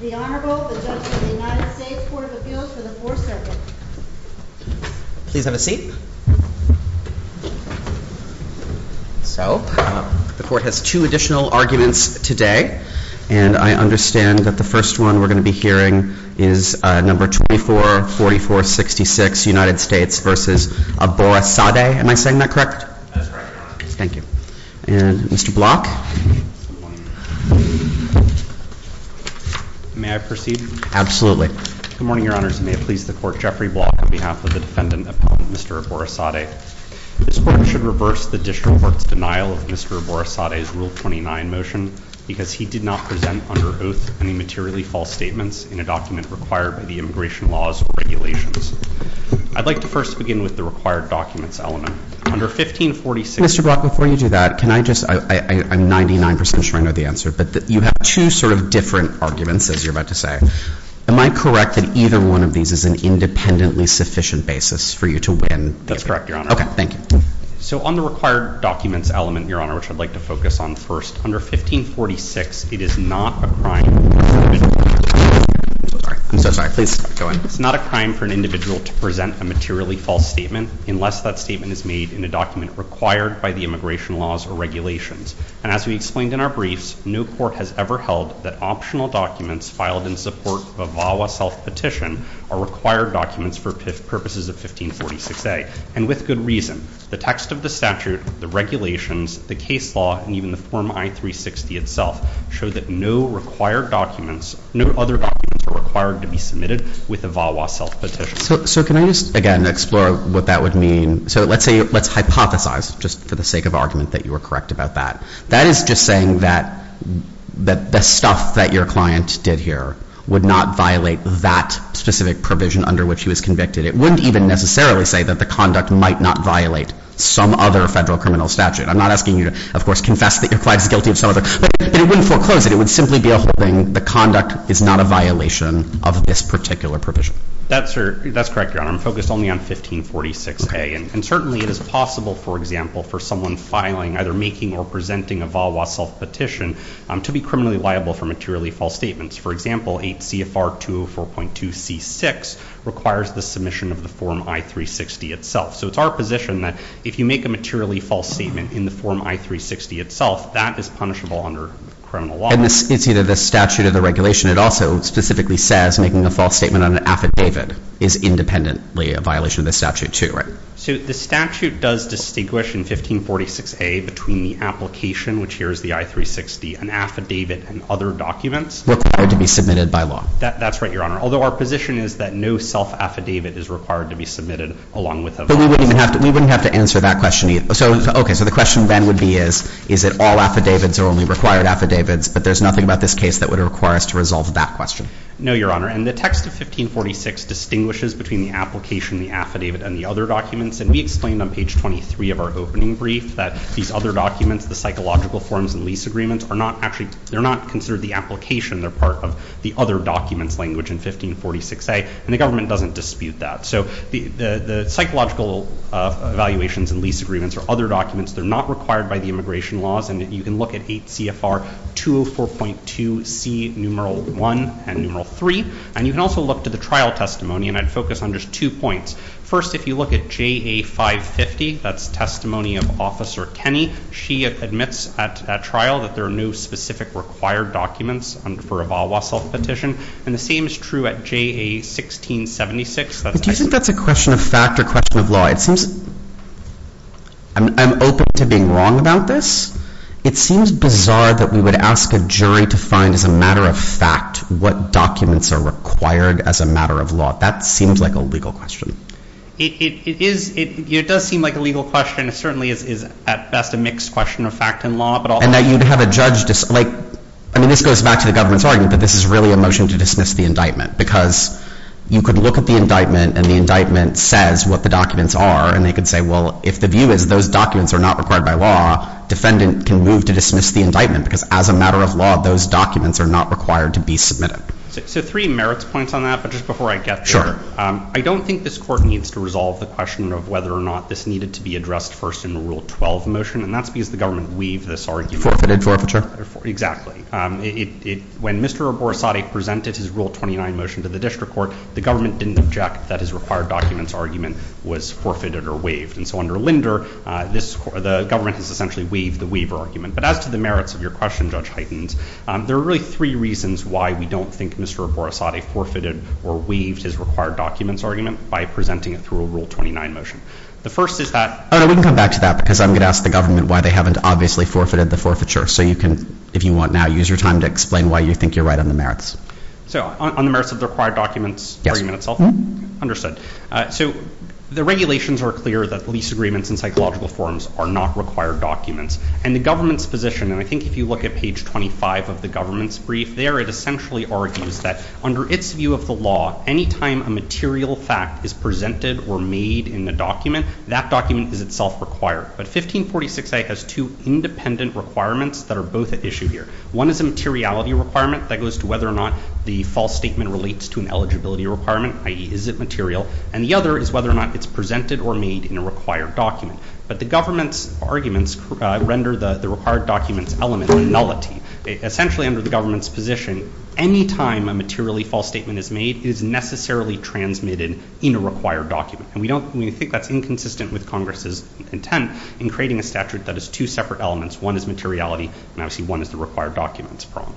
The Honorable, the Judge of the United States Court of Appeals for the Fourth Circuit. Please have a seat. So, the Court has two additional arguments today, and I understand that the first one we're going to be hearing is number 244466, United States v. Aborisade. Am I saying that correct? That's correct, Your Honor. Thank you. And, Mr. Block? May I proceed? Absolutely. Good morning, Your Honors, and may it please the Court, Jeffrey Block, on behalf of the Defendant, upon Mr. Aborisade. This Court should reverse the District Court's denial of Mr. Aborisade's Rule 29 motion because he did not present under oath any materially false statements in a document required by the immigration laws or regulations. I'd like to first begin with the required documents element. Under 1546— Mr. Block, before you do that, can I just— I'm 99% sure I know the answer, but you have two sort of different arguments, as you're about to say. Am I correct that either one of these is an independently sufficient basis for you to win? That's correct, Your Honor. Okay, thank you. So, on the required documents element, Your Honor, which I'd like to focus on first, under 1546, it is not a crime— I'm so sorry. I'm so sorry. Please go ahead. It's not a crime for an individual to present a materially false statement unless that statement is made in a document required by the immigration laws or regulations. And as we explained in our briefs, no court has ever held that optional documents filed in support of a VAWA self-petition are required documents for purposes of 1546A. And with good reason. The text of the statute, the regulations, the case law, and even the Form I-360 itself show that no other documents are required to be submitted with a VAWA self-petition. So can I just, again, explore what that would mean? So let's hypothesize, just for the sake of argument, that you were correct about that. That is just saying that the stuff that your client did here would not violate that specific provision under which he was convicted. It wouldn't even necessarily say that the conduct might not violate some other federal criminal statute. I'm not asking you to, of course, confess that your client is guilty of some other— but it wouldn't foreclose it. It would simply be a holding the conduct is not a violation of this particular provision. That's correct, Your Honor. I'm focused only on 1546A. And certainly it is possible, for example, for someone filing, either making or presenting a VAWA self-petition to be criminally liable for materially false statements. For example, 8 CFR 204.2C6 requires the submission of the Form I-360 itself. So it's our position that if you make a materially false statement in the Form I-360 itself, that is punishable under criminal law. And it's either the statute or the regulation. It also specifically says making a false statement on an affidavit is independently a violation of the statute, too, right? So the statute does distinguish in 1546A between the application, which here is the I-360, an affidavit, and other documents— Required to be submitted by law. That's right, Your Honor. Although our position is that no self-affidavit is required to be submitted along with a VAWA. But we wouldn't have to answer that question either. Okay, so the question then would be is, is it all affidavits or only required affidavits, but there's nothing about this case that would require us to resolve that question? No, Your Honor. And the text of 1546 distinguishes between the application, the affidavit, and the other documents. And we explained on page 23 of our opening brief that these other documents, the psychological forms and lease agreements, are not actually—they're not considered the application. They're part of the other documents language in 1546A. And the government doesn't dispute that. So the psychological evaluations and lease agreements are other documents. They're not required by the immigration laws. And you can look at 8 CFR 204.2C, numeral 1 and numeral 3. And you can also look to the trial testimony. And I'd focus on just two points. First, if you look at JA 550, that's testimony of Officer Kenny. She admits at trial that there are no specific required documents for a VAWA self-petition. And the same is true at JA 1676. But do you think that's a question of fact or a question of law? It seems—I'm open to being wrong about this. It seems bizarre that we would ask a jury to find as a matter of fact what documents are required as a matter of law. That seems like a legal question. It is—it does seem like a legal question. It certainly is at best a mixed question of fact and law. And that you'd have a judge— I mean, this goes back to the government's argument that this is really a motion to dismiss the indictment because you could look at the indictment, and the indictment says what the documents are, and they could say, well, if the view is those documents are not required by law, defendant can move to dismiss the indictment because as a matter of law, those documents are not required to be submitted. So three merits points on that, but just before I get there. I don't think this Court needs to resolve the question of whether or not this needed to be addressed first in Rule 12 motion, and that's because the government weaved this argument. Forfeited forfeiture. Exactly. When Mr. Aborasade presented his Rule 29 motion to the district court, the government didn't object that his required documents argument was forfeited or weaved. And so under Linder, the government has essentially weaved the weaver argument. But as to the merits of your question, Judge Heitens, there are really three reasons why we don't think Mr. Aborasade forfeited or weaved his required documents argument by presenting it through a Rule 29 motion. The first is that— We can come back to that because I'm going to ask the government why they haven't obviously forfeited the forfeiture. So you can, if you want now, use your time to explain why you think you're right on the merits. So on the merits of the required documents argument itself? Understood. So the regulations are clear that lease agreements and psychological forms are not required documents. And the government's position, and I think if you look at page 25 of the government's brief there, it essentially argues that under its view of the law, any time a material fact is presented or made in the document, that document is itself required. But 1546A has two independent requirements that are both at issue here. One is a materiality requirement that goes to whether or not the false statement relates to an eligibility requirement, i.e., is it material? And the other is whether or not it's presented or made in a required document. But the government's arguments render the required documents element nullity. Essentially, under the government's position, any time a materially false statement is made, it is necessarily transmitted in a required document. And we think that's inconsistent with Congress's intent. In creating a statute that has two separate elements, one is materiality and obviously one is the required documents problem.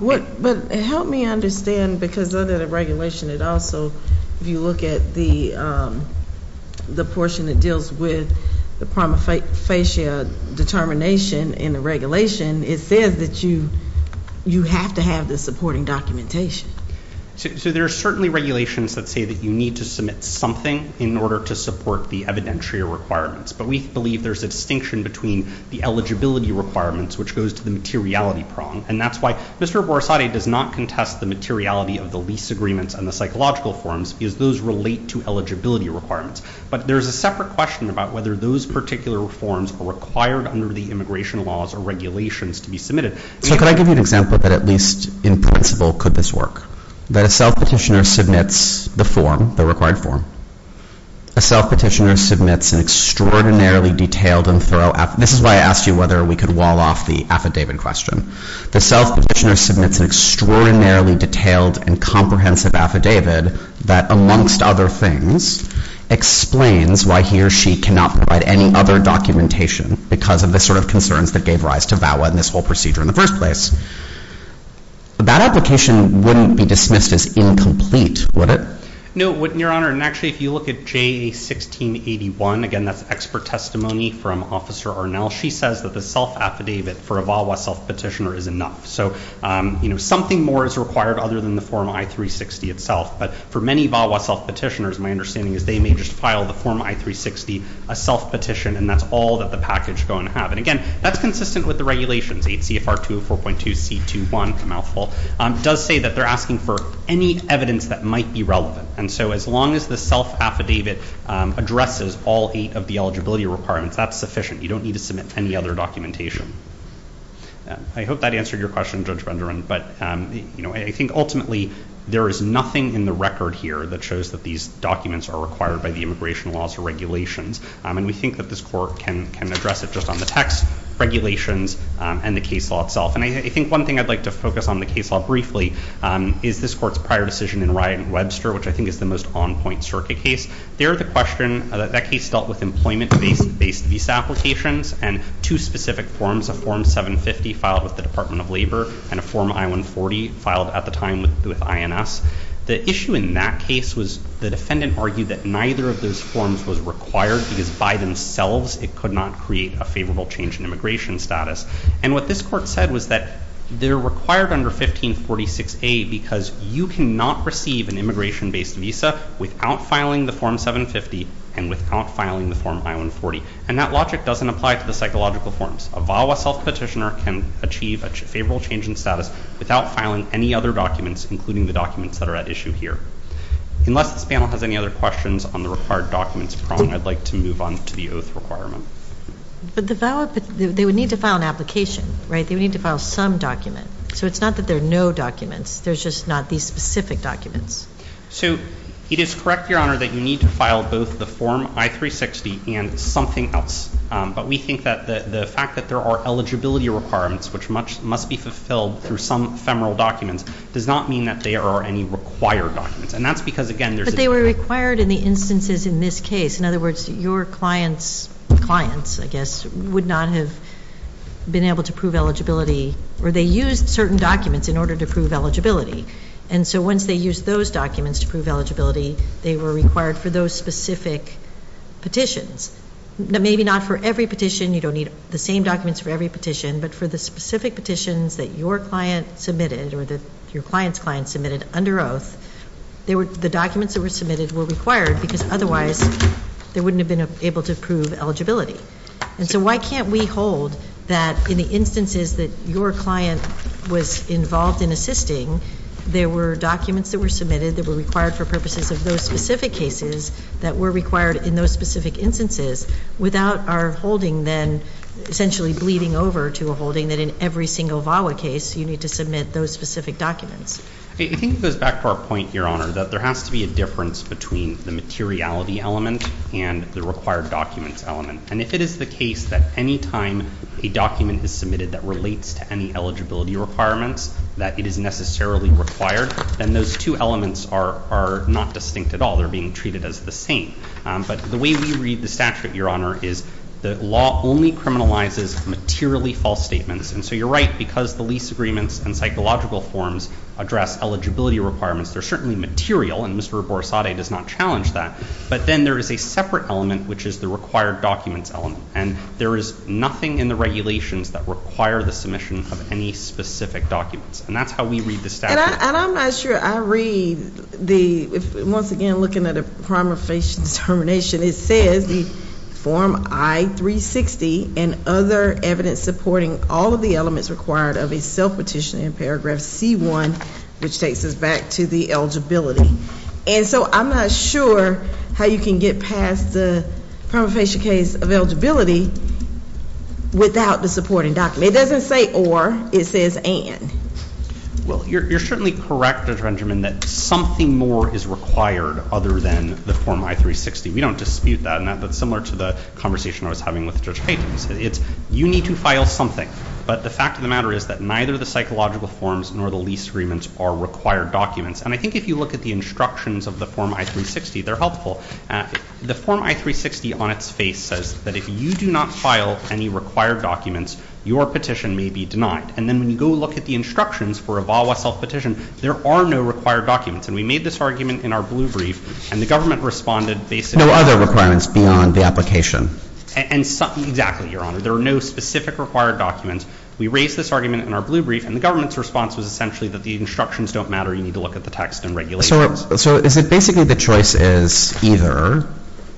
But help me understand, because under the regulation, it also, if you look at the portion that deals with the prima facie determination in the regulation, it says that you have to have the supporting documentation. So there are certainly regulations that say that you need to submit something in order to support the evidentiary requirements. But we believe there's a distinction between the eligibility requirements, which goes to the materiality prong. And that's why Mr. Borsatti does not contest the materiality of the lease agreements and the psychological forms, because those relate to eligibility requirements. But there's a separate question about whether those particular forms are required under the immigration laws or regulations to be submitted. So could I give you an example that at least in principle could this work? That a self-petitioner submits the form, the required form. A self-petitioner submits an extraordinarily detailed and thorough affidavit. This is why I asked you whether we could wall off the affidavit question. The self-petitioner submits an extraordinarily detailed and comprehensive affidavit that, amongst other things, explains why he or she cannot provide any other documentation because of the sort of concerns that gave rise to VAWA and this whole procedure in the first place. That application wouldn't be dismissed as incomplete, would it? No, it wouldn't, Your Honor. And actually, if you look at JA1681, again, that's expert testimony from Officer Arnell. She says that the self-affidavit for a VAWA self-petitioner is enough. So, you know, something more is required other than the Form I-360 itself. But for many VAWA self-petitioners, my understanding is they may just file the Form I-360, a self-petition, and that's all that the package is going to have. And again, that's consistent with the regulations. 8 CFR 204.2C21, a mouthful, does say that they're asking for any evidence that might be relevant. And so as long as the self-affidavit addresses all eight of the eligibility requirements, that's sufficient. You don't need to submit any other documentation. I hope that answered your question, Judge Renderman. But, you know, I think ultimately there is nothing in the record here that shows that these documents are required by the immigration laws or regulations. And we think that this Court can address it just on the text, regulations, and the case law itself. And I think one thing I'd like to focus on the case law briefly is this Court's prior decision in Ryan-Webster, which I think is the most on-point circuit case. There the question, that case dealt with employment-based visa applications and two specific forms, a Form 750 filed with the Department of Labor and a Form I-140 filed at the time with INS. The issue in that case was the defendant argued that neither of those forms was required because by themselves it could not create a favorable change in immigration status. And what this Court said was that they're required under 1546A because you cannot receive an immigration-based visa without filing the Form 750 and without filing the Form I-140. And that logic doesn't apply to the psychological forms. A VAWA self-petitioner can achieve a favorable change in status without filing any other documents, including the documents that are at issue here. Unless this panel has any other questions on the required documents, I'd like to move on to the oath requirement. But the VAWA, they would need to file an application, right? They would need to file some document. So it's not that there are no documents. There's just not these specific documents. So it is correct, Your Honor, that you need to file both the Form I-360 and something else. But we think that the fact that there are eligibility requirements, which must be fulfilled through some ephemeral documents, does not mean that there are any required documents. And that's because, again, there's a difference. But they were required in the instances in this case. In other words, your client's clients, I guess, would not have been able to prove eligibility or they used certain documents in order to prove eligibility. And so once they used those documents to prove eligibility, they were required for those specific petitions. Maybe not for every petition. You don't need the same documents for every petition. But for the specific petitions that your client submitted or that your client's client submitted under oath, the documents that were submitted were required because otherwise they wouldn't have been able to prove eligibility. And so why can't we hold that in the instances that your client was involved in assisting, there were documents that were submitted that were required for purposes of those specific cases that were required in those specific instances without our holding then essentially bleeding over to a holding that in every single VAWA case you need to submit those specific documents. I think it goes back to our point, Your Honor, that there has to be a difference between the materiality element and the required documents element. And if it is the case that any time a document is submitted that relates to any eligibility requirements, that it is necessarily required, then those two elements are not distinct at all. They're being treated as the same. But the way we read the statute, Your Honor, is the law only criminalizes materially false statements. And so you're right, because the lease agreements and psychological forms address eligibility requirements, they're certainly material, and Mr. Borrasade does not challenge that. But then there is a separate element, which is the required documents element. And there is nothing in the regulations that require the submission of any specific documents. And that's how we read the statute. And I'm not sure I read the, once again, looking at a primer face determination, it says the Form I-360 and other evidence supporting all of the elements required of a self-petition in Paragraph C-1, which takes us back to the eligibility. And so I'm not sure how you can get past the primer facial case of eligibility without the supporting document. It doesn't say or, it says and. Well, you're certainly correct, Judge Benjamin, that something more is required other than the Form I-360. We don't dispute that, and that's similar to the conversation I was having with Judge Payton. It's you need to file something, but the fact of the matter is that neither the psychological forms nor the lease agreements are required documents. And I think if you look at the instructions of the Form I-360, they're helpful. The Form I-360 on its face says that if you do not file any required documents, your petition may be denied. And then when you go look at the instructions for a VAWA self-petition, there are no required documents. And we made this argument in our blue brief, and the government responded basically— No other requirements beyond the application. Exactly, Your Honor. There are no specific required documents. We raised this argument in our blue brief, and the government's response was essentially that the instructions don't matter. You need to look at the text and regulations. So is it basically the choice is either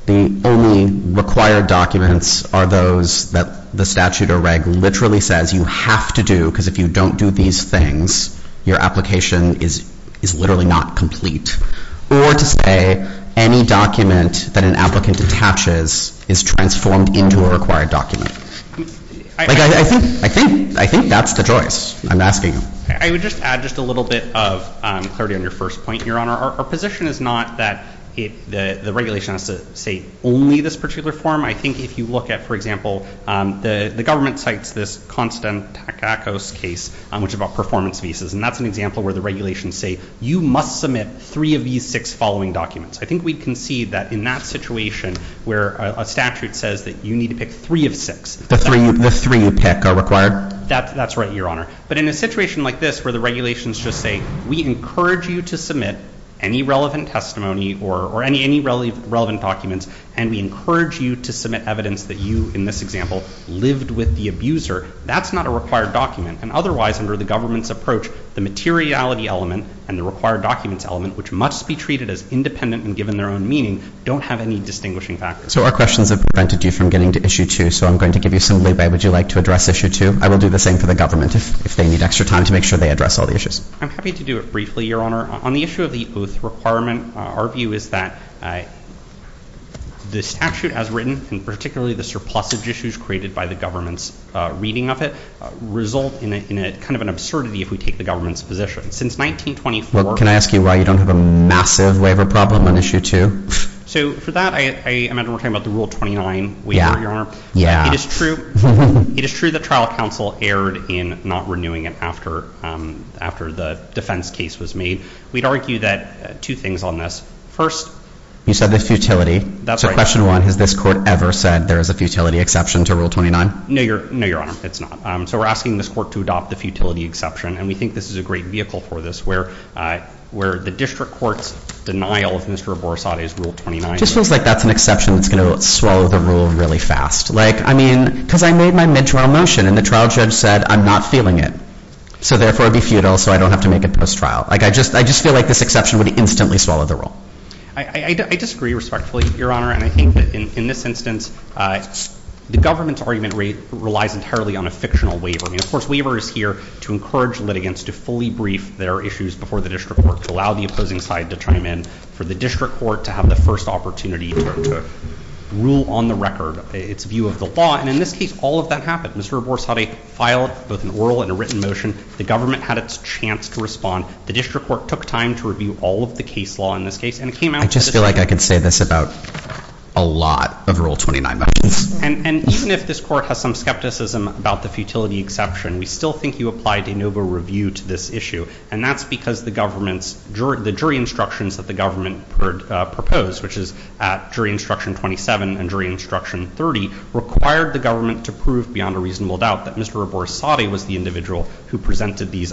the only required documents are those that the statute or reg literally says you have to do because if you don't do these things, your application is literally not complete, or to say any document that an applicant detaches is transformed into a required document? I think that's the choice. I'm asking you. I would just add just a little bit of clarity on your first point, Your Honor. Our position is not that the regulation has to say only this particular form. I think if you look at, for example, the government cites this Konstantakous case, which is about performance visas, and that's an example where the regulations say you must submit three of these six following documents. I think we concede that in that situation where a statute says that you need to pick three of six— The three you pick are required? That's right, Your Honor. But in a situation like this where the regulations just say we encourage you to submit any relevant testimony or any relevant documents, and we encourage you to submit evidence that you, in this example, lived with the abuser, that's not a required document. And otherwise, under the government's approach, the materiality element and the required documents element, which must be treated as independent and given their own meaning, don't have any distinguishing factors. So our questions have prevented you from getting to Issue 2, so I'm going to give you some leeway. Would you like to address Issue 2? I will do the same for the government if they need extra time to make sure they address all the issues. I'm happy to do it briefly, Your Honor. On the issue of the oath requirement, our view is that the statute as written, and particularly the surplusage issues created by the government's reading of it, result in kind of an absurdity if we take the government's position. Since 1924— Well, can I ask you why you don't have a massive waiver problem on Issue 2? So for that, I imagine we're talking about the Rule 29 waiver, Your Honor. Yeah, yeah. It is true that trial counsel erred in not renewing it after the defense case was made. We'd argue that two things on this. First— You said the futility. That's right. So question one, has this court ever said there is a futility exception to Rule 29? No, Your Honor, it's not. So we're asking this court to adopt the futility exception, and we think this is a great vehicle for this, where the district court's denial of Mr. Borrasade's Rule 29— It just feels like that's an exception that's going to swallow the rule really fast. I mean, because I made my mid-trial motion, and the trial judge said I'm not feeling it, so therefore it would be futile, so I don't have to make it post-trial. I just feel like this exception would instantly swallow the rule. I disagree respectfully, Your Honor, and I think that in this instance, the government's argument relies entirely on a fictional waiver. Of course, waiver is here to encourage litigants to fully brief their issues before the district court, to allow the opposing side to chime in, for the district court to have the first opportunity to rule on the record. It's a view of the law, and in this case, all of that happened. Mr. Borrasade filed both an oral and a written motion. The government had its chance to respond. The district court took time to review all of the case law in this case, and it came out— I just feel like I could say this about a lot of Rule 29— And even if this court has some skepticism about the futility exception, we still think you applied de novo review to this issue, and that's because the jury instructions that the government proposed, which is at Jury Instruction 27 and Jury Instruction 30, required the government to prove beyond a reasonable doubt that Mr. Borrasade was the individual who presented these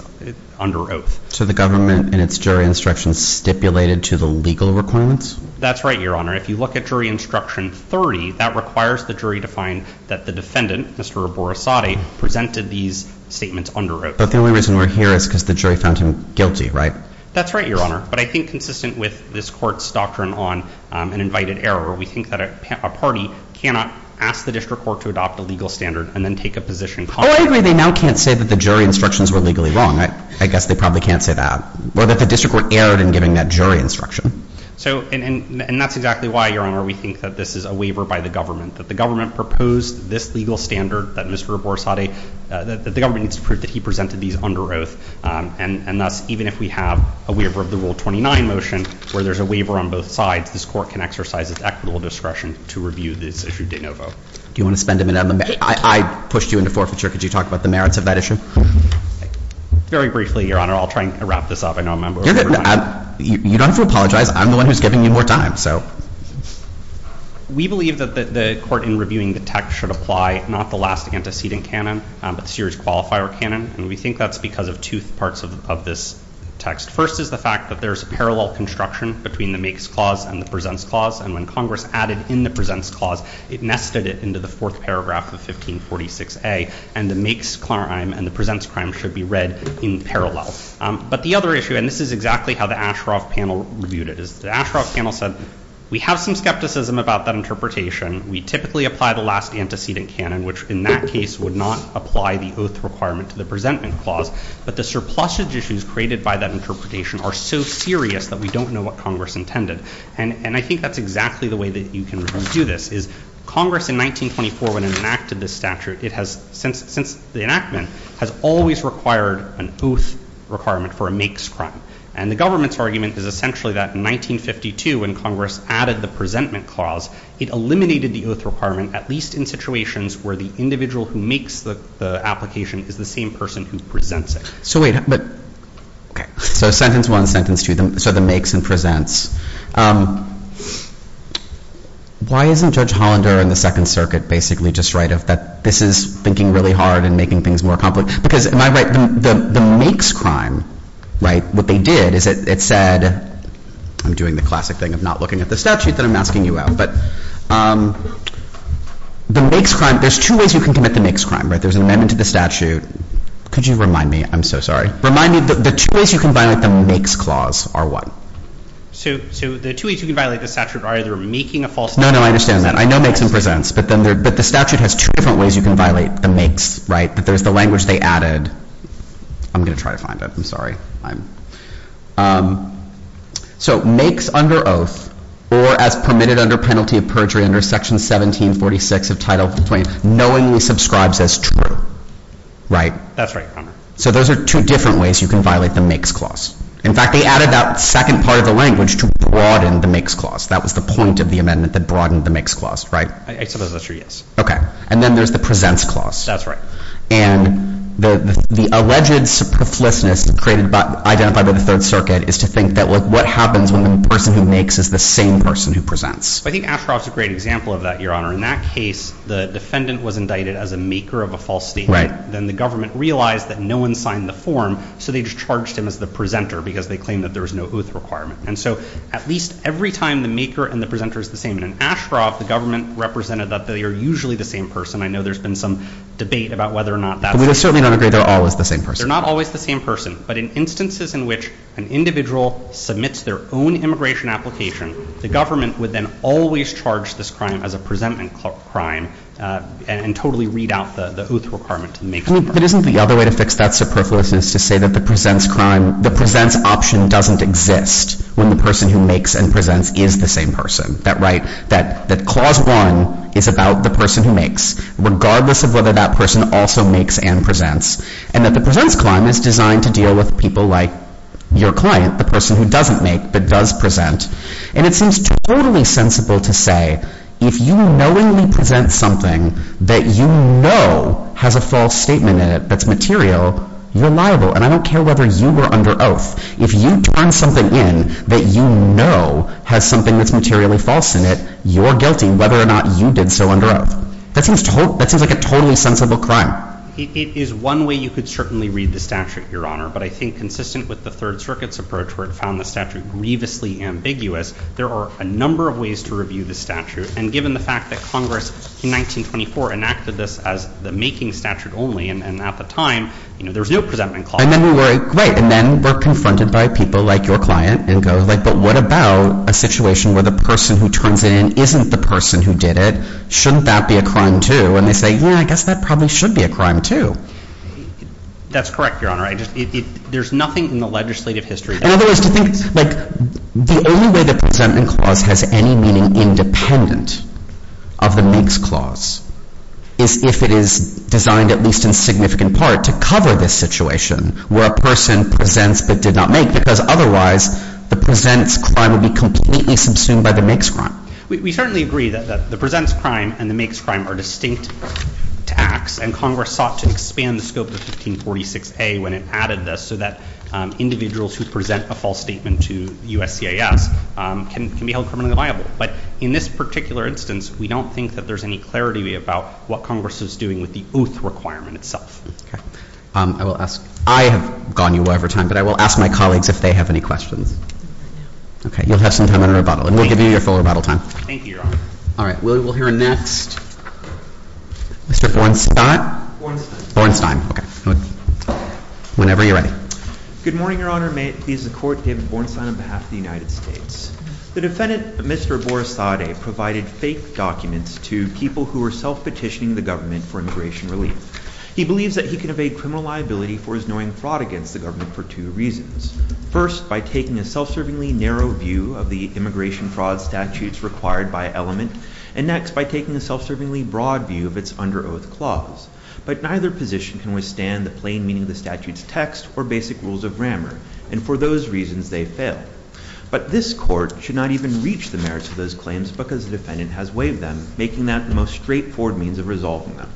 under oath. So the government, in its jury instructions, stipulated to the legal requirements? That's right, Your Honor. If you look at Jury Instruction 30, that requires the jury to find that the defendant, Mr. Borrasade, presented these statements under oath. But the only reason we're here is because the jury found him guilty, right? That's right, Your Honor. But I think consistent with this court's doctrine on an invited error, we think that a party cannot ask the district court to adopt a legal standard and then take a position contrary. Oh, I agree. They now can't say that the jury instructions were legally wrong. I guess they probably can't say that. Or that the district court erred in giving that jury instruction. And that's exactly why, Your Honor, we think that this is a waiver by the government, that the government proposed this legal standard that Mr. Borrasade— that the government needs to prove that he presented these under oath. And thus, even if we have a waiver of the Rule 29 motion, where there's a waiver on both sides, this court can exercise its equitable discretion to review this issue de novo. Do you want to spend a minute? I pushed you into forfeiture. Could you talk about the merits of that issue? Very briefly, Your Honor. I'll try and wrap this up. I know a member— You're good. You don't have to apologize. I'm the one who's giving you more time, so. We believe that the court, in reviewing the text, should apply not the last antecedent canon, but the series qualifier canon. And we think that's because of two parts of this text. First is the fact that there's a parallel construction between the makes clause and the presents clause. And when Congress added in the presents clause, it nested it into the fourth paragraph of 1546A. And the makes crime and the presents crime should be read in parallel. But the other issue— and this is exactly how the Ashcroft panel reviewed it— is the Ashcroft panel said, we have some skepticism about that interpretation. We typically apply the last antecedent canon, which in that case would not apply the oath requirement to the presentment clause. But the surplusage issues created by that interpretation are so serious that we don't know what Congress intended. And I think that's exactly the way that you can review this, is Congress in 1924, when it enacted this statute, it has, since the enactment, has always required an oath requirement for a makes crime. And the government's argument is essentially that in 1952, when Congress added the presentment clause, it eliminated the oath requirement, at least in situations where the individual who makes the application is the same person who presents it. So wait, but, okay. So sentence one, sentence two. So the makes and presents. Why isn't Judge Hollander in the Second Circuit basically just right of that this is thinking really hard and making things more complicated? Because, am I right, the makes crime, right, what they did is it said— I'm doing the classic thing of not looking at the statute that I'm asking you out, but— the makes crime— there's two ways you can commit the makes crime, right? There's an amendment to the statute. Could you remind me? I'm so sorry. Remind me the two ways you can violate the makes clause are what? So the two ways you can violate the statute are either making a false— No, no, I understand that. I know makes and presents, but the statute has two different ways you can violate the makes, right? That there's the language they added. I'm going to try to find it. I'm sorry. So makes under oath, or as permitted under penalty of perjury under Section 1746 of Title 20, knowingly subscribes as true, right? That's right, Your Honor. So those are two different ways you can violate the makes clause. In fact, they added that second part of the language to broaden the makes clause. That was the point of the amendment that broadened the makes clause, right? I suppose that's true, yes. Okay. And then there's the presents clause. That's right. And the alleged proflicitousness identified by the Third Circuit is to think that, look, what happens when the person who makes is the same person who presents? I think Ashcroft's a great example of that, Your Honor. In that case, the defendant was indicted as a maker of a false statement. Then the government realized that no one signed the form, so they just charged him as the presenter because they claimed that there was no oath requirement. And so at least every time the maker and the presenter is the same. In Ashcroft, the government represented that they are usually the same person. I know there's been some debate about whether or not that's the case. But we certainly don't agree they're always the same person. They're not always the same person. But in instances in which an individual submits their own immigration application, the government would then always charge this crime as a presentment crime and totally read out the oath requirement to the maker. But isn't the other way to fix that superfluousness to say that the presents option doesn't exist when the person who makes and presents is the same person? That clause one is about the person who makes, regardless of whether that person also makes and presents, and that the presents crime is designed to deal with people like your client, the person who doesn't make but does present. And it seems totally sensible to say if you knowingly present something that you know has a false statement in it that's material, you're liable. And I don't care whether you were under oath. If you turn something in that you know has something that's materially false in it, you're guilty whether or not you did so under oath. That seems like a totally sensible crime. It is one way you could certainly read the statute, Your Honor. But I think consistent with the Third Circuit's approach where it found the statute grievously ambiguous, there are a number of ways to review the statute and given the fact that Congress in 1924 enacted this as the making statute only and at the time there was no presentment clause. And then we're confronted by people like your client and go, but what about a situation where the person who turns it in isn't the person who did it? Shouldn't that be a crime, too? And they say, yeah, I guess that probably should be a crime, too. That's correct, Your Honor. There's nothing in the legislative history In other words, to think like the only way the presentment clause has any meaning independent of the makes clause is if it is designed, at least in significant part, to cover this situation where a person presents but did not make, because otherwise the presents crime would be completely subsumed by the makes crime. We certainly agree that the presents crime and the makes crime are distinct to acts and Congress sought to expand the scope of 1546A when it added this so that individuals who present a false statement to USCIS can be held criminally liable. But in this particular instance, we don't think that there's any clarity about what Congress is doing with the oath requirement itself. I will ask, I have gone you over time, but I will ask my colleagues if they have any questions. Okay. You'll have some time in rebuttal and we'll give you your full rebuttal time. Thank you, Your Honor. All right. We'll hear next Mr. Bornstein. Bornstein. Bornstein. Okay. Whenever you're ready. Good morning, Your Honor. May it please the Court, I'm David Bornstein on behalf of the United States. The defendant, Mr. Borisade, provided fake documents to people who were self-petitioning the government for immigration relief. He believes that he can evade criminal liability for his knowing fraud against the government for two reasons. First, by taking a self-servingly narrow view of the immigration fraud statutes required by element. And next, by taking a self-servingly broad view of its under oath clause. But neither position can withstand the plain meaning of the statute's text or basic rules of grammar. And for those reasons, they fail. But this court should not even reach the merits of those claims because the defendant has waived them, making that the most straightforward means of resolving them.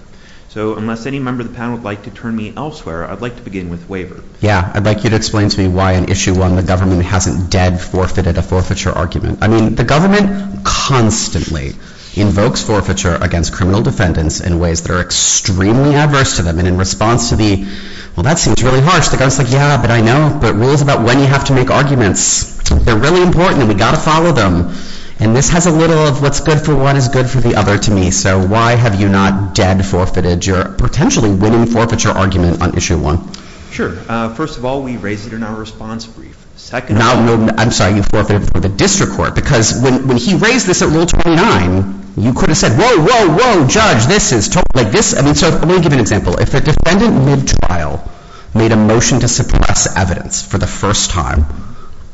So unless any member of the panel would like to turn me elsewhere, I'd like to begin with waiver. Yeah, I'd like you to explain to me why in issue one the government hasn't dead forfeited a forfeiture argument. I mean, the government constantly invokes forfeiture against criminal defendants in ways that are extremely adverse to them. And in response to the, well, that seems really harsh, the guy's like, yeah, but I know, but rules about when you have to make arguments, they're really important, and we've got to follow them. And this has a little of what's good for one is good for the other to me. So why have you not dead forfeited your potentially winning forfeiture argument on issue one? Sure. First of all, we raised it in our response brief. Second of all... No, no, I'm sorry, you forfeited it for the district court because when he raised this at rule 29, you could have said, whoa, whoa, whoa, judge, this is totally, like, this, I mean, so let me give you an example. If the defendant mid-trial made a motion to suppress evidence for the first time,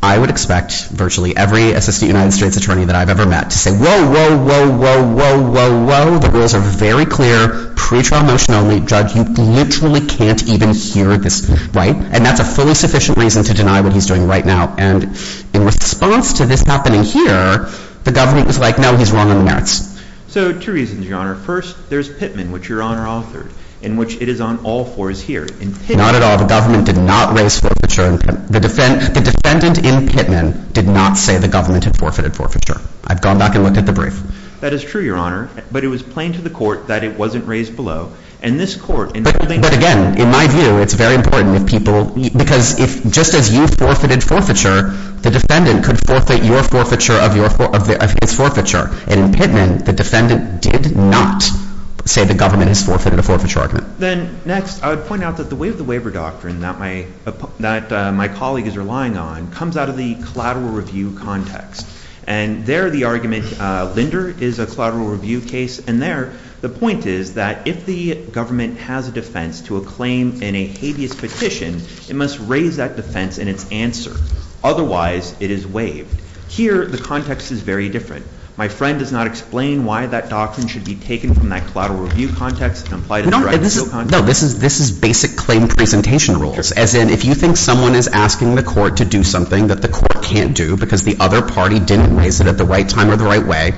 I would expect virtually every assistant United States attorney that I've ever met to say, whoa, whoa, whoa, whoa, whoa, whoa, the rules are very clear, pre-trial motion only, judge, you literally can't even hear this, right? And that's a fully sufficient reason to deny what he's doing right now. And in response to this happening here, the government was like, no, he's wrong on the merits. So two reasons, Your Honor. First, there's Pittman, which Your Honor authored, in which it is on all fours here. Not at all. The government did not raise forfeiture. The defendant in Pittman did not say the government had forfeited forfeiture. I've gone back and looked at the brief. That is true, Your Honor. But it was plain to the court that it wasn't raised below. But again, in my view, it's very important if people, because if just as you forfeited forfeiture, the defendant could forfeit your forfeiture of his forfeiture. And in Pittman, the defendant did not say the government has forfeited a forfeiture argument. Then next, I would point out that the way of the waiver doctrine that my colleague is relying on comes out of the collateral review context. And there, the argument, Linder is a collateral review case. And there, the point is that if the government has a defense to a claim in a habeas petition, it must raise that defense in its answer. Otherwise, it is waived. Here, the context is very different. My friend does not explain why that doctrine should be taken from that collateral review context No, this is basic claim presentation rules. As in, if you think someone is asking the court to do something that the court can't do because the other party didn't raise it at the right time or the right way,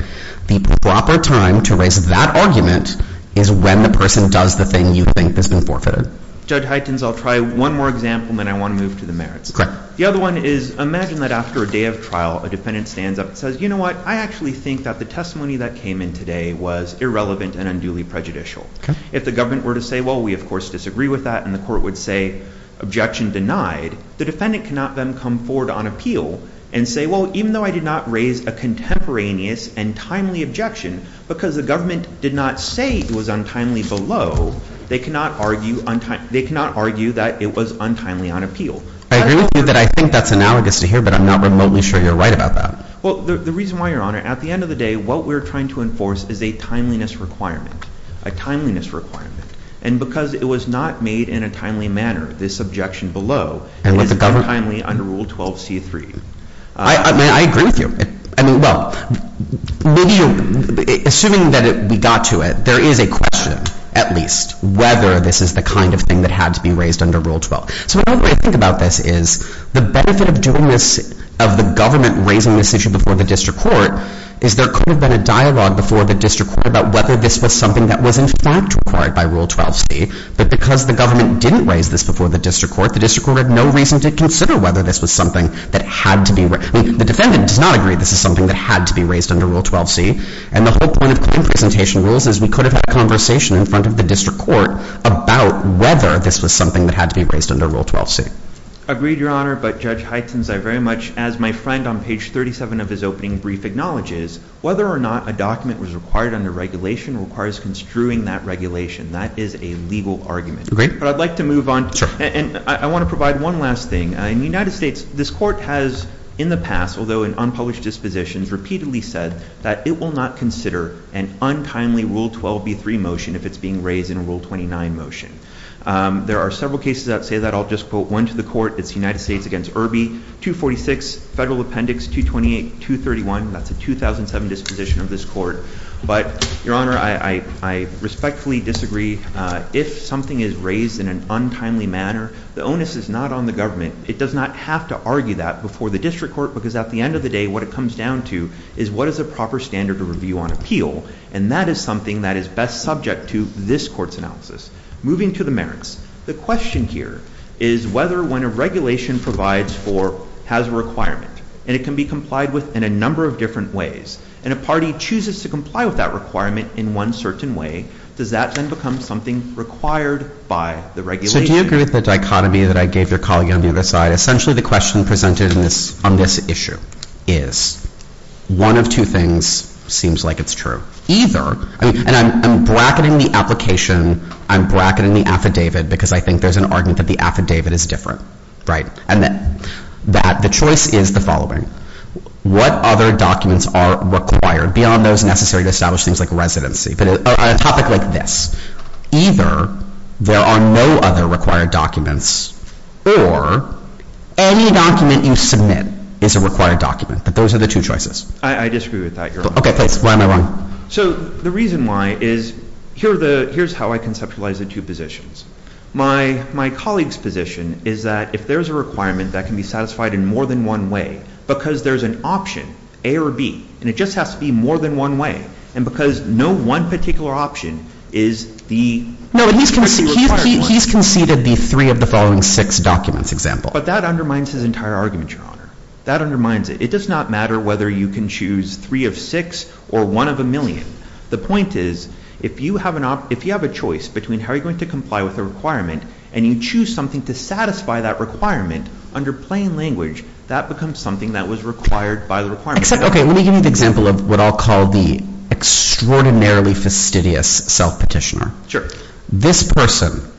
the proper time to raise that argument is when the person does the thing you think has been forfeited. Judge Huytens, I'll try one more example and then I want to move to the merits. Correct. The other one is, imagine that after a day of trial, a defendant stands up and says, you know what, I actually think that the testimony that came in today was irrelevant and unduly prejudicial. If the government were to say, well, we of course disagree with that and the court would say, objection denied, the defendant cannot then come forward on appeal and say, well, even though I did not raise a contemporaneous and timely objection because the government did not say it was untimely below, they cannot argue that it was untimely on appeal. I agree with you that I think that's analogous to here but I'm not remotely sure you're right about that. Well, the reason why, Your Honor, at the end of the day, what we're trying to enforce is a timeliness requirement. A timeliness requirement. And because it was not made in a timely manner, this objection below is untimely under Rule 12.C.3. I agree with you. I mean, well, assuming that we got to it, there is a question, at least, whether this is the kind of thing that had to be raised under Rule 12. So the way I think about this is the benefit of doing this, of the government raising this issue before the district court, is there could have been a dialogue before the district court about whether this was something that was in fact required by Rule 12.C. But because the government didn't raise this before the district court, the district court had no reason to consider whether this was something that had to be raised. I mean, the defendant does not agree this is something that had to be raised under Rule 12.C. And the whole point of claim presentation rules is we could have had a conversation in front of the district court about whether this was something that had to be raised under Rule 12.C. Agreed, Your Honor, but Judge Heitens, I very much, as my friend on page 37 of his opening brief acknowledges, whether or not a document was required under regulation requires construing that regulation. That is a legal argument. Agreed. But I'd like to move on. Sure. And I want to provide one last thing. In the United States, this court has in the past, although in unpublished dispositions, repeatedly said that it will not consider an unkindly Rule 12.B.3 motion if it's being raised in a Rule 29 motion. There are several cases that say that. I'll just quote one to the court. It's the United States against Irby, 246, Federal Appendix 228, 231. That's a 2007 disposition of this court. But, Your Honor, I respectfully disagree. If something is raised in an untimely manner, the onus is not on the government. It does not have to argue that before the district court because at the end of the day, what it comes down to is what is a proper standard of review on appeal, and that is something that is best subject to this court's analysis. Moving to the merits. The question here is whether when a regulation provides for, has a requirement, and it can be complied with in a number of different ways, and a party chooses to comply with that requirement in one certain way, does that then become something required by the regulation? So do you agree with the dichotomy that I gave your colleague on the other side? Essentially, the question presented on this issue is one of two things seems like it's true. Either, and I'm bracketing the application, I'm bracketing the affidavit because I think there's an argument that the affidavit is different, right? And that the choice is the following. What other documents are required beyond those necessary to establish things like residency? But on a topic like this, either there are no other required documents or any document you submit is a required document. But those are the two choices. I disagree with that, Your Honor. Okay, please. Why am I wrong? So the reason why is here's how I conceptualize the two positions. My colleague's position is that if there's a requirement that can be satisfied in more than one way because there's an option, A or B, and it just has to be more than one way and because no one particular option is the required one. No, he's conceded the three of the following six documents example. But that undermines his entire argument, Your Honor. That undermines it. It does not matter whether you can choose three of six or one of a million. The point is, if you have a choice between how you're going to comply with a requirement and you choose something to satisfy that requirement under plain language, that becomes something that was required by the requirement. Except, okay, let me give you the example of what I'll call the extraordinarily fastidious self-petitioner. This person,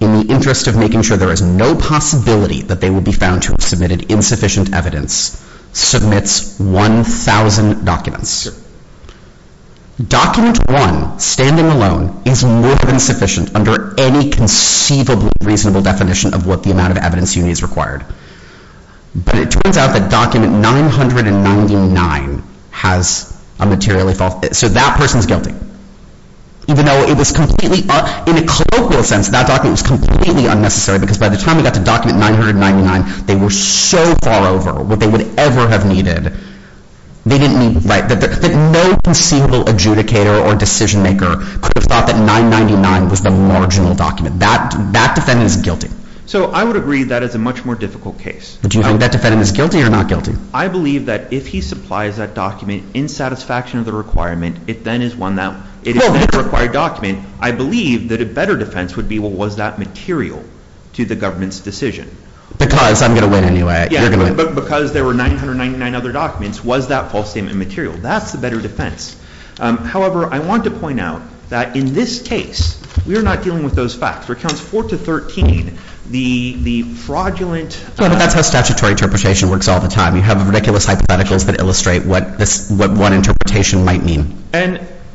in the interest of making sure there is no possibility that they will be found to have submitted insufficient evidence, submits 1,000 documents. Sure. Document one, standing alone, is more than sufficient under any conceivable reasonable definition of what the amount of evidence you need is required. But it turns out that document 999 has a materially false... So that person's guilty. Even though it was completely... In a colloquial sense, that document was completely unnecessary because by the time we got to document 999, they were so far over what they would ever have needed. They didn't need... That no conceivable adjudicator or decision-maker could have thought that 999 was the marginal document. That defendant is guilty. So I would agree that is a much more difficult case. Do you think that defendant is guilty or not guilty? I believe that if he supplies that document in satisfaction of the requirement, it then is one that... It is a required document. I believe that a better defense would be what was that material to the government's decision. Because I'm going to win anyway. Because there were 999 other documents, was that false statement material? That's the better defense. However, I want to point out that in this case, we are not dealing with those facts. For accounts 4 to 13, the fraudulent... But that's how statutory interpretation works all the time. You have ridiculous hypotheticals that illustrate what one interpretation might mean.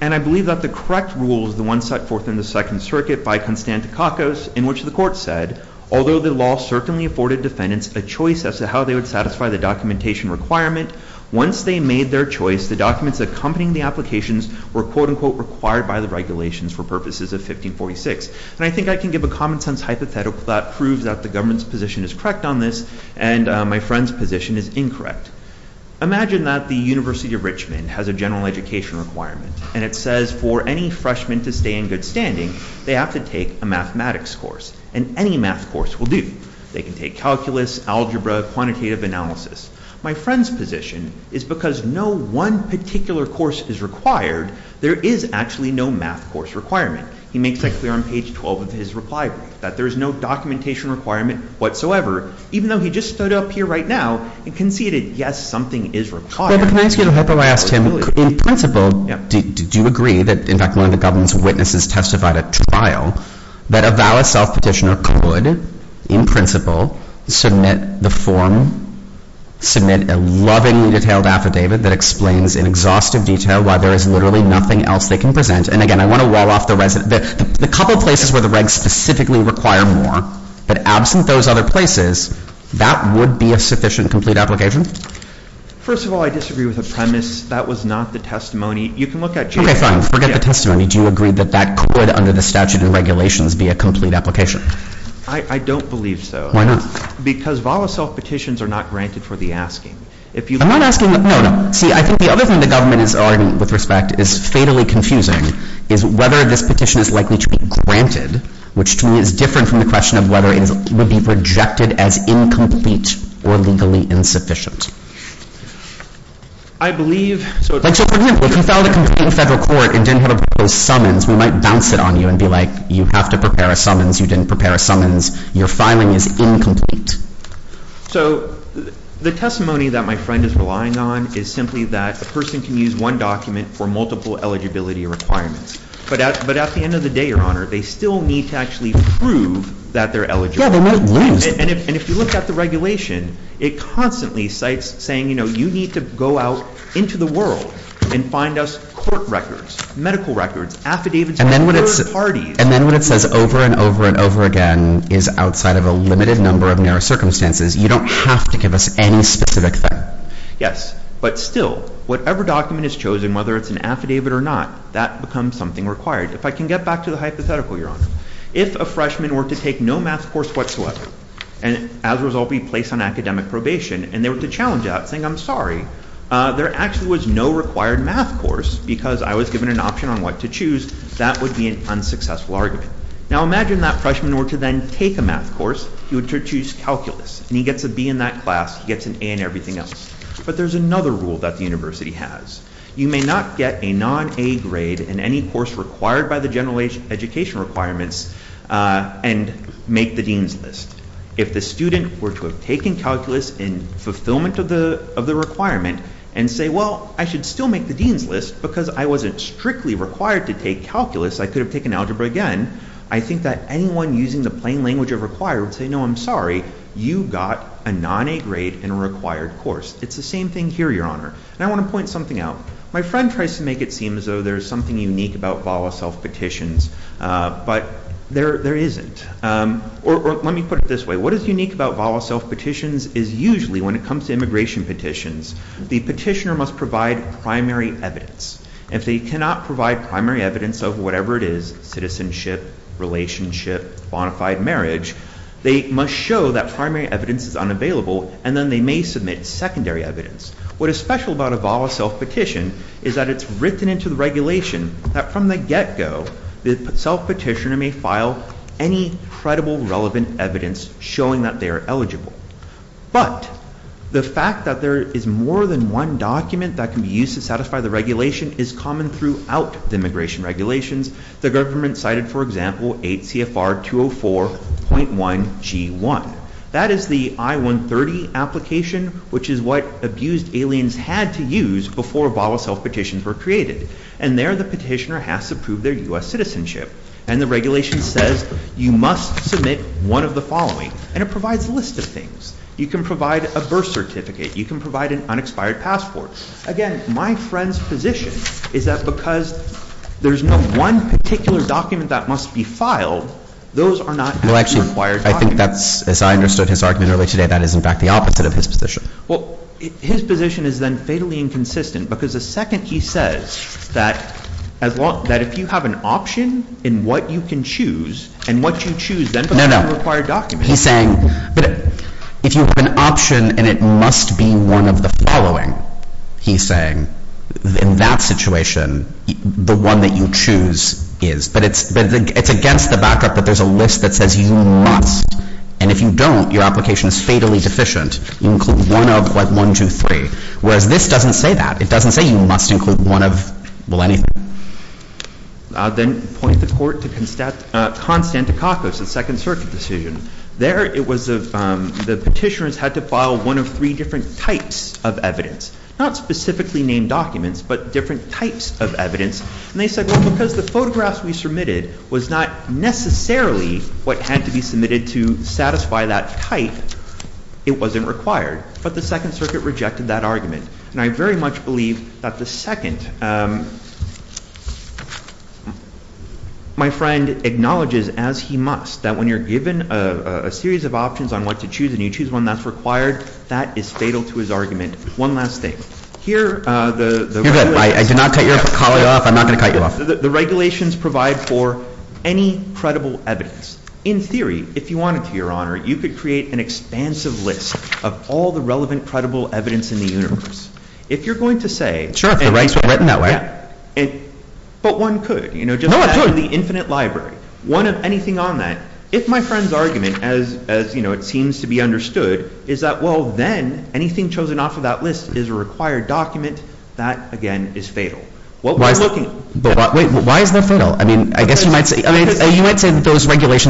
And I believe that the correct rule is the one set forth in the Second Circuit by Constantin Kakos in which the court said, although the law certainly afforded defendants a choice as to how they would satisfy the documentation requirement, once they made their choice, the documents accompanying the applications were, quote-unquote, required by the regulations for purposes of 1546. And I think I can give a common sense hypothetical that proves that the government's position is correct on this and my friend's position is incorrect. Imagine that the University of Richmond has a general education requirement and it says for any freshman to stay in good standing, they have to take a mathematics course. And any math course will do. They can take calculus, algebra, quantitative analysis. My friend's position is because no one particular course is required, there is actually no math course requirement. He makes it clear on page 12 of his requirement that there is no documentation requirement whatsoever, even though he just stood up here right now and conceded, yes, something is required. But can I ask you a hypothetical? I asked him, in principle, do you agree that, in fact, one of the government's witnesses testified at trial that a valid self-petitioner could, in principle, submit the form, submit a lovingly detailed affidavit that explains in exhaustive detail why there is literally nothing else they can present. And again, I want to wall off the resident. The couple of places where the regs specifically require more, but absent those other places, that would be a sufficient, complete application? First of all, I disagree with the premise. That was not the testimony. You can look at... Okay, fine. Forget the testimony. Do you agree that that could, under the statute and regulations, be a complete application? I don't believe so. Why not? Because valid self-petitions are not granted for the asking. I'm not asking... No, no. See, I think the other thing the government is arguing with respect is fatally confusing is whether this petition is likely to be granted, which, to me, is different from the question of whether it would be rejected as incomplete or legally insufficient. I believe... So, for example, if you filed a complaint in federal court and didn't have a proposed summons, we might bounce it on you and be like, you have to prepare a summons. You didn't prepare a summons. Your filing is incomplete. So, the testimony that my friend is relying on is simply that a person can use one document for multiple eligibility requirements. But at the end of the day, Your Honor, they still need to actually prove that they're eligible. Yeah, they might lose. And if you look at the regulation, it constantly cites saying, you know, you need to go out into the world and find us court records, medical records, affidavits of third parties. And then when it says over and over and over again is outside of a limited number of narrow circumstances, you don't have to give us any specific thing. Yes. But still, whatever document is chosen, whether it's an affidavit or not, that becomes something required. If I can get back to the hypothetical, if a freshman were to take no math course whatsoever, and as a result, be placed on academic probation, and they were to challenge that, saying, I'm sorry, there actually was no required math course because I was given an option on what to choose, that would be an unsuccessful argument. Now, imagine that freshman were to then take a math course. He would choose calculus. And he gets a B in that class. He gets an A in everything else. But there's another rule that the university has. You may not get a non-A grade in any course required by the general education requirements and make the dean's list. If the student were to have taken calculus in fulfillment of the requirement and say, well, I should still make the dean's list because I wasn't strictly required to take calculus, I could have taken algebra again, I think that anyone using the plain language of required would say, no, I'm sorry, you got a non-A grade in a required course. It's the same thing here, Your Honor. And I want to point something out. My friend tries to make it seem as though there's something unique about VAWA self-petitions, but there isn't. Or let me put it this way. What is unique about VAWA self-petitions is usually when it comes to immigration petitions, the petitioner must provide primary evidence. If they cannot provide primary evidence of whatever it is, citizenship, relationship, bona fide marriage, they must show that primary evidence is unavailable and then they may submit secondary evidence. What is special about a VAWA self-petition is that it's written into the regulation that from the get-go, the self-petitioner may file any credible relevant evidence showing that they are eligible. But, the fact that there is more than one document that can be used to satisfy the regulation is common throughout the immigration regulations. The government cited, for example, 8 CFR 204.1 G1. That is the I-130 application, which is what abused aliens had to use before VAWA self-petitions were created. And there, the petitioner has to prove their U.S. citizenship. And the regulation says, you must submit one of the following. And it provides a list of things. You can provide a birth certificate. You can provide an unexpired passport. Again, my friend's position is that because there's no one particular document that must be filed, those are not actually required documents. I think that's, as I understood his argument earlier today, that is in fact the opposite of his position. Well, his position is then fatally inconsistent because the second he says that if you have an option in what you can choose and what you choose, then those are required documents. No, no. He's saying if you have an option and it must be one of the following, he's saying, in that situation, the one that you choose is. But it's against the backup that there's a list that says you must. And if you don't, your application is fatally inconsistent. You include one of what, one, two, three. Whereas this doesn't say that. It doesn't say you must include one of, well, anything. I'll then point the Court to Constantikakos, the Second Circuit decision. There it was, the petitioners had to file one of three different types of evidence. Not specifically named documents, but different types of evidence. And they said, well, because the photographs we submitted was not necessarily what had to be submitted to satisfy that type, it wasn't required. But the Second Circuit rejected that argument. And I very much believe that the second, my friend acknowledges as he must that when you're given a series of options on what to choose and you choose one that's required, that is fatal to his argument. One last thing. Here the regulations provide for any credible evidence. In theory, if you wanted to, you could create an expansive list of all the relevant credible evidence in the universe. If you're going to say, but one could, just as in the infinite library, one of anything on that, if my friend's as it seems to regulations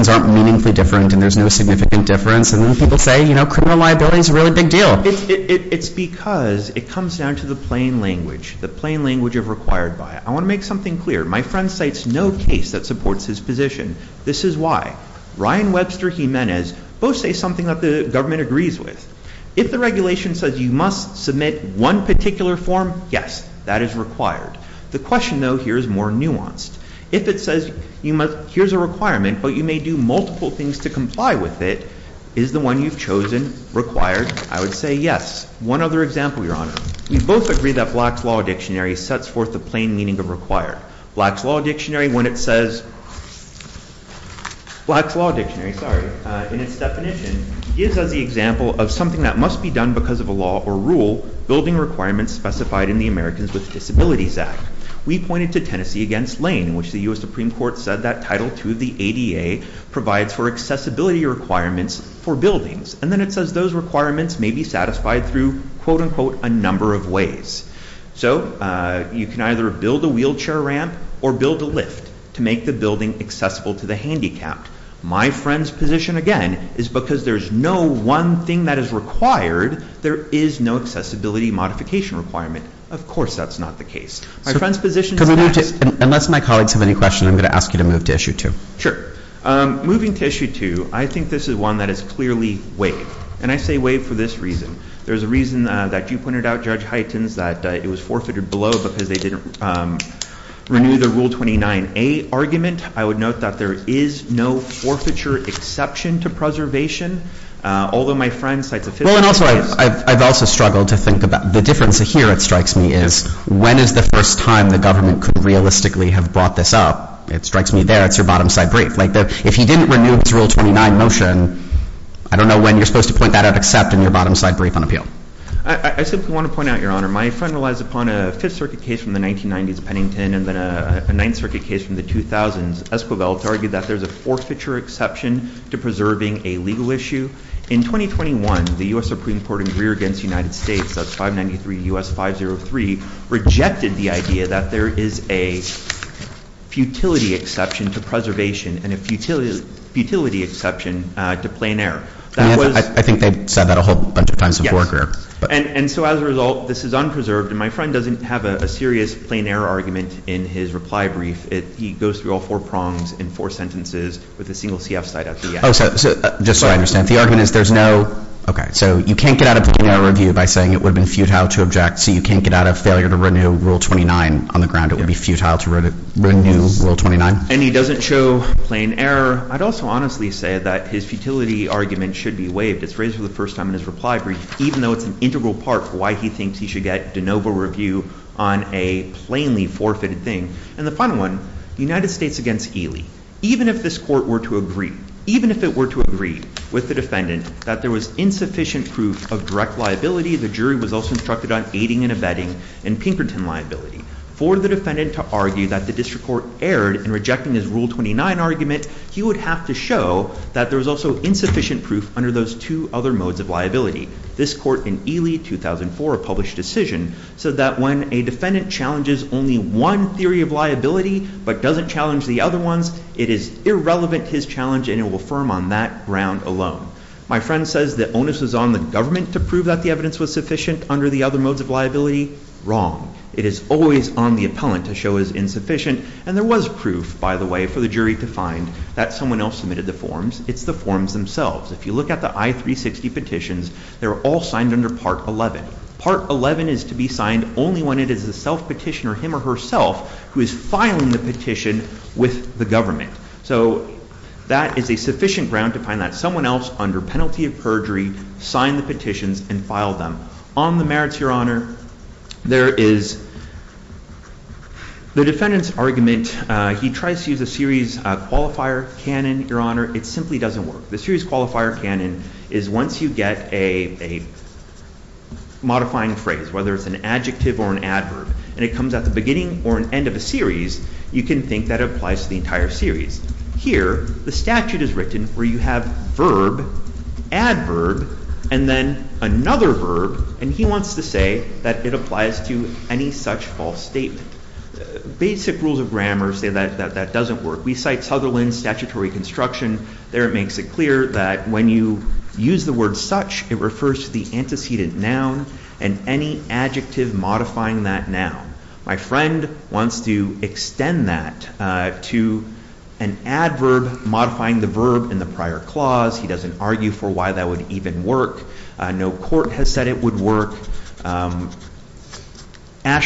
aren't meaningfully different and there's no significant difference and people say criminal liability is a really big deal. It's because it comes down to the plain language, the plain language of required by it. I want to make something clear. My friend Ryan Webster Jimenez both say something that the government agrees with. If the regulation says you must submit one particular form, yes, that is required. The question here is more nuanced. If it says here's a requirement but you may do multiple things to comply with it, is the one you've chosen required? I would say yes. One other example, Your Honor. We both agree that Black's Law Dictionary sets forth the plain meaning of required. Black's Law Dictionary when it says, Black's Law Dictionary, sorry, in its definition gives us the example of something that must be done because of a law or rule building requirements specified in the Americans with Disabilities Act. We pointed to against Lane. It says those requirements may be satisfied through a number of ways. So you can either build a ramp or build a lift to make the building accessible to the handicapped. My friend's position again is because there's no one thing that is required, there is no accessibility modification requirement. Of course that's not the case. Unless my colleagues have any questions, I'm going to ask you to move to issue two. Sure. Moving to issue two, I think this is one that is clearly waived. I say waived for this reason. There's a reason that you pointed out that it was forfeited below because they didn't renew the rule 29A argument. I would note that there is no forfeiture exception to preservation. I've also struggled to think about the difference here. When is the first time the government could realistically have brought this up? It strikes me there. If you didn't renew the rule 29 motion, I don't know when you're supposed to point that out. I want to point out that friend argued that there's a forfeiture exception to preserving a legal issue. 2021, the U.S. Supreme Court rejected the idea that there is a futility exception to preservation and a futility exception to plain error. My friend doesn't have a serious plain error argument in his reply brief. He goes through all four prongs and four sentences with a single CF side. You can't get out of plain error review by saying it would have been futile to preserve plainly forfeited thing. And the final one, United States against Ely. Even if this court were to agree with the defendant that there was insufficient proof of direct liability, the jury was also instructed on aiding and abetting the Pinkerton liability. For the defendant to argue that the district court erred in his rule 29 argument, he would have to show that there was insufficient proof under those two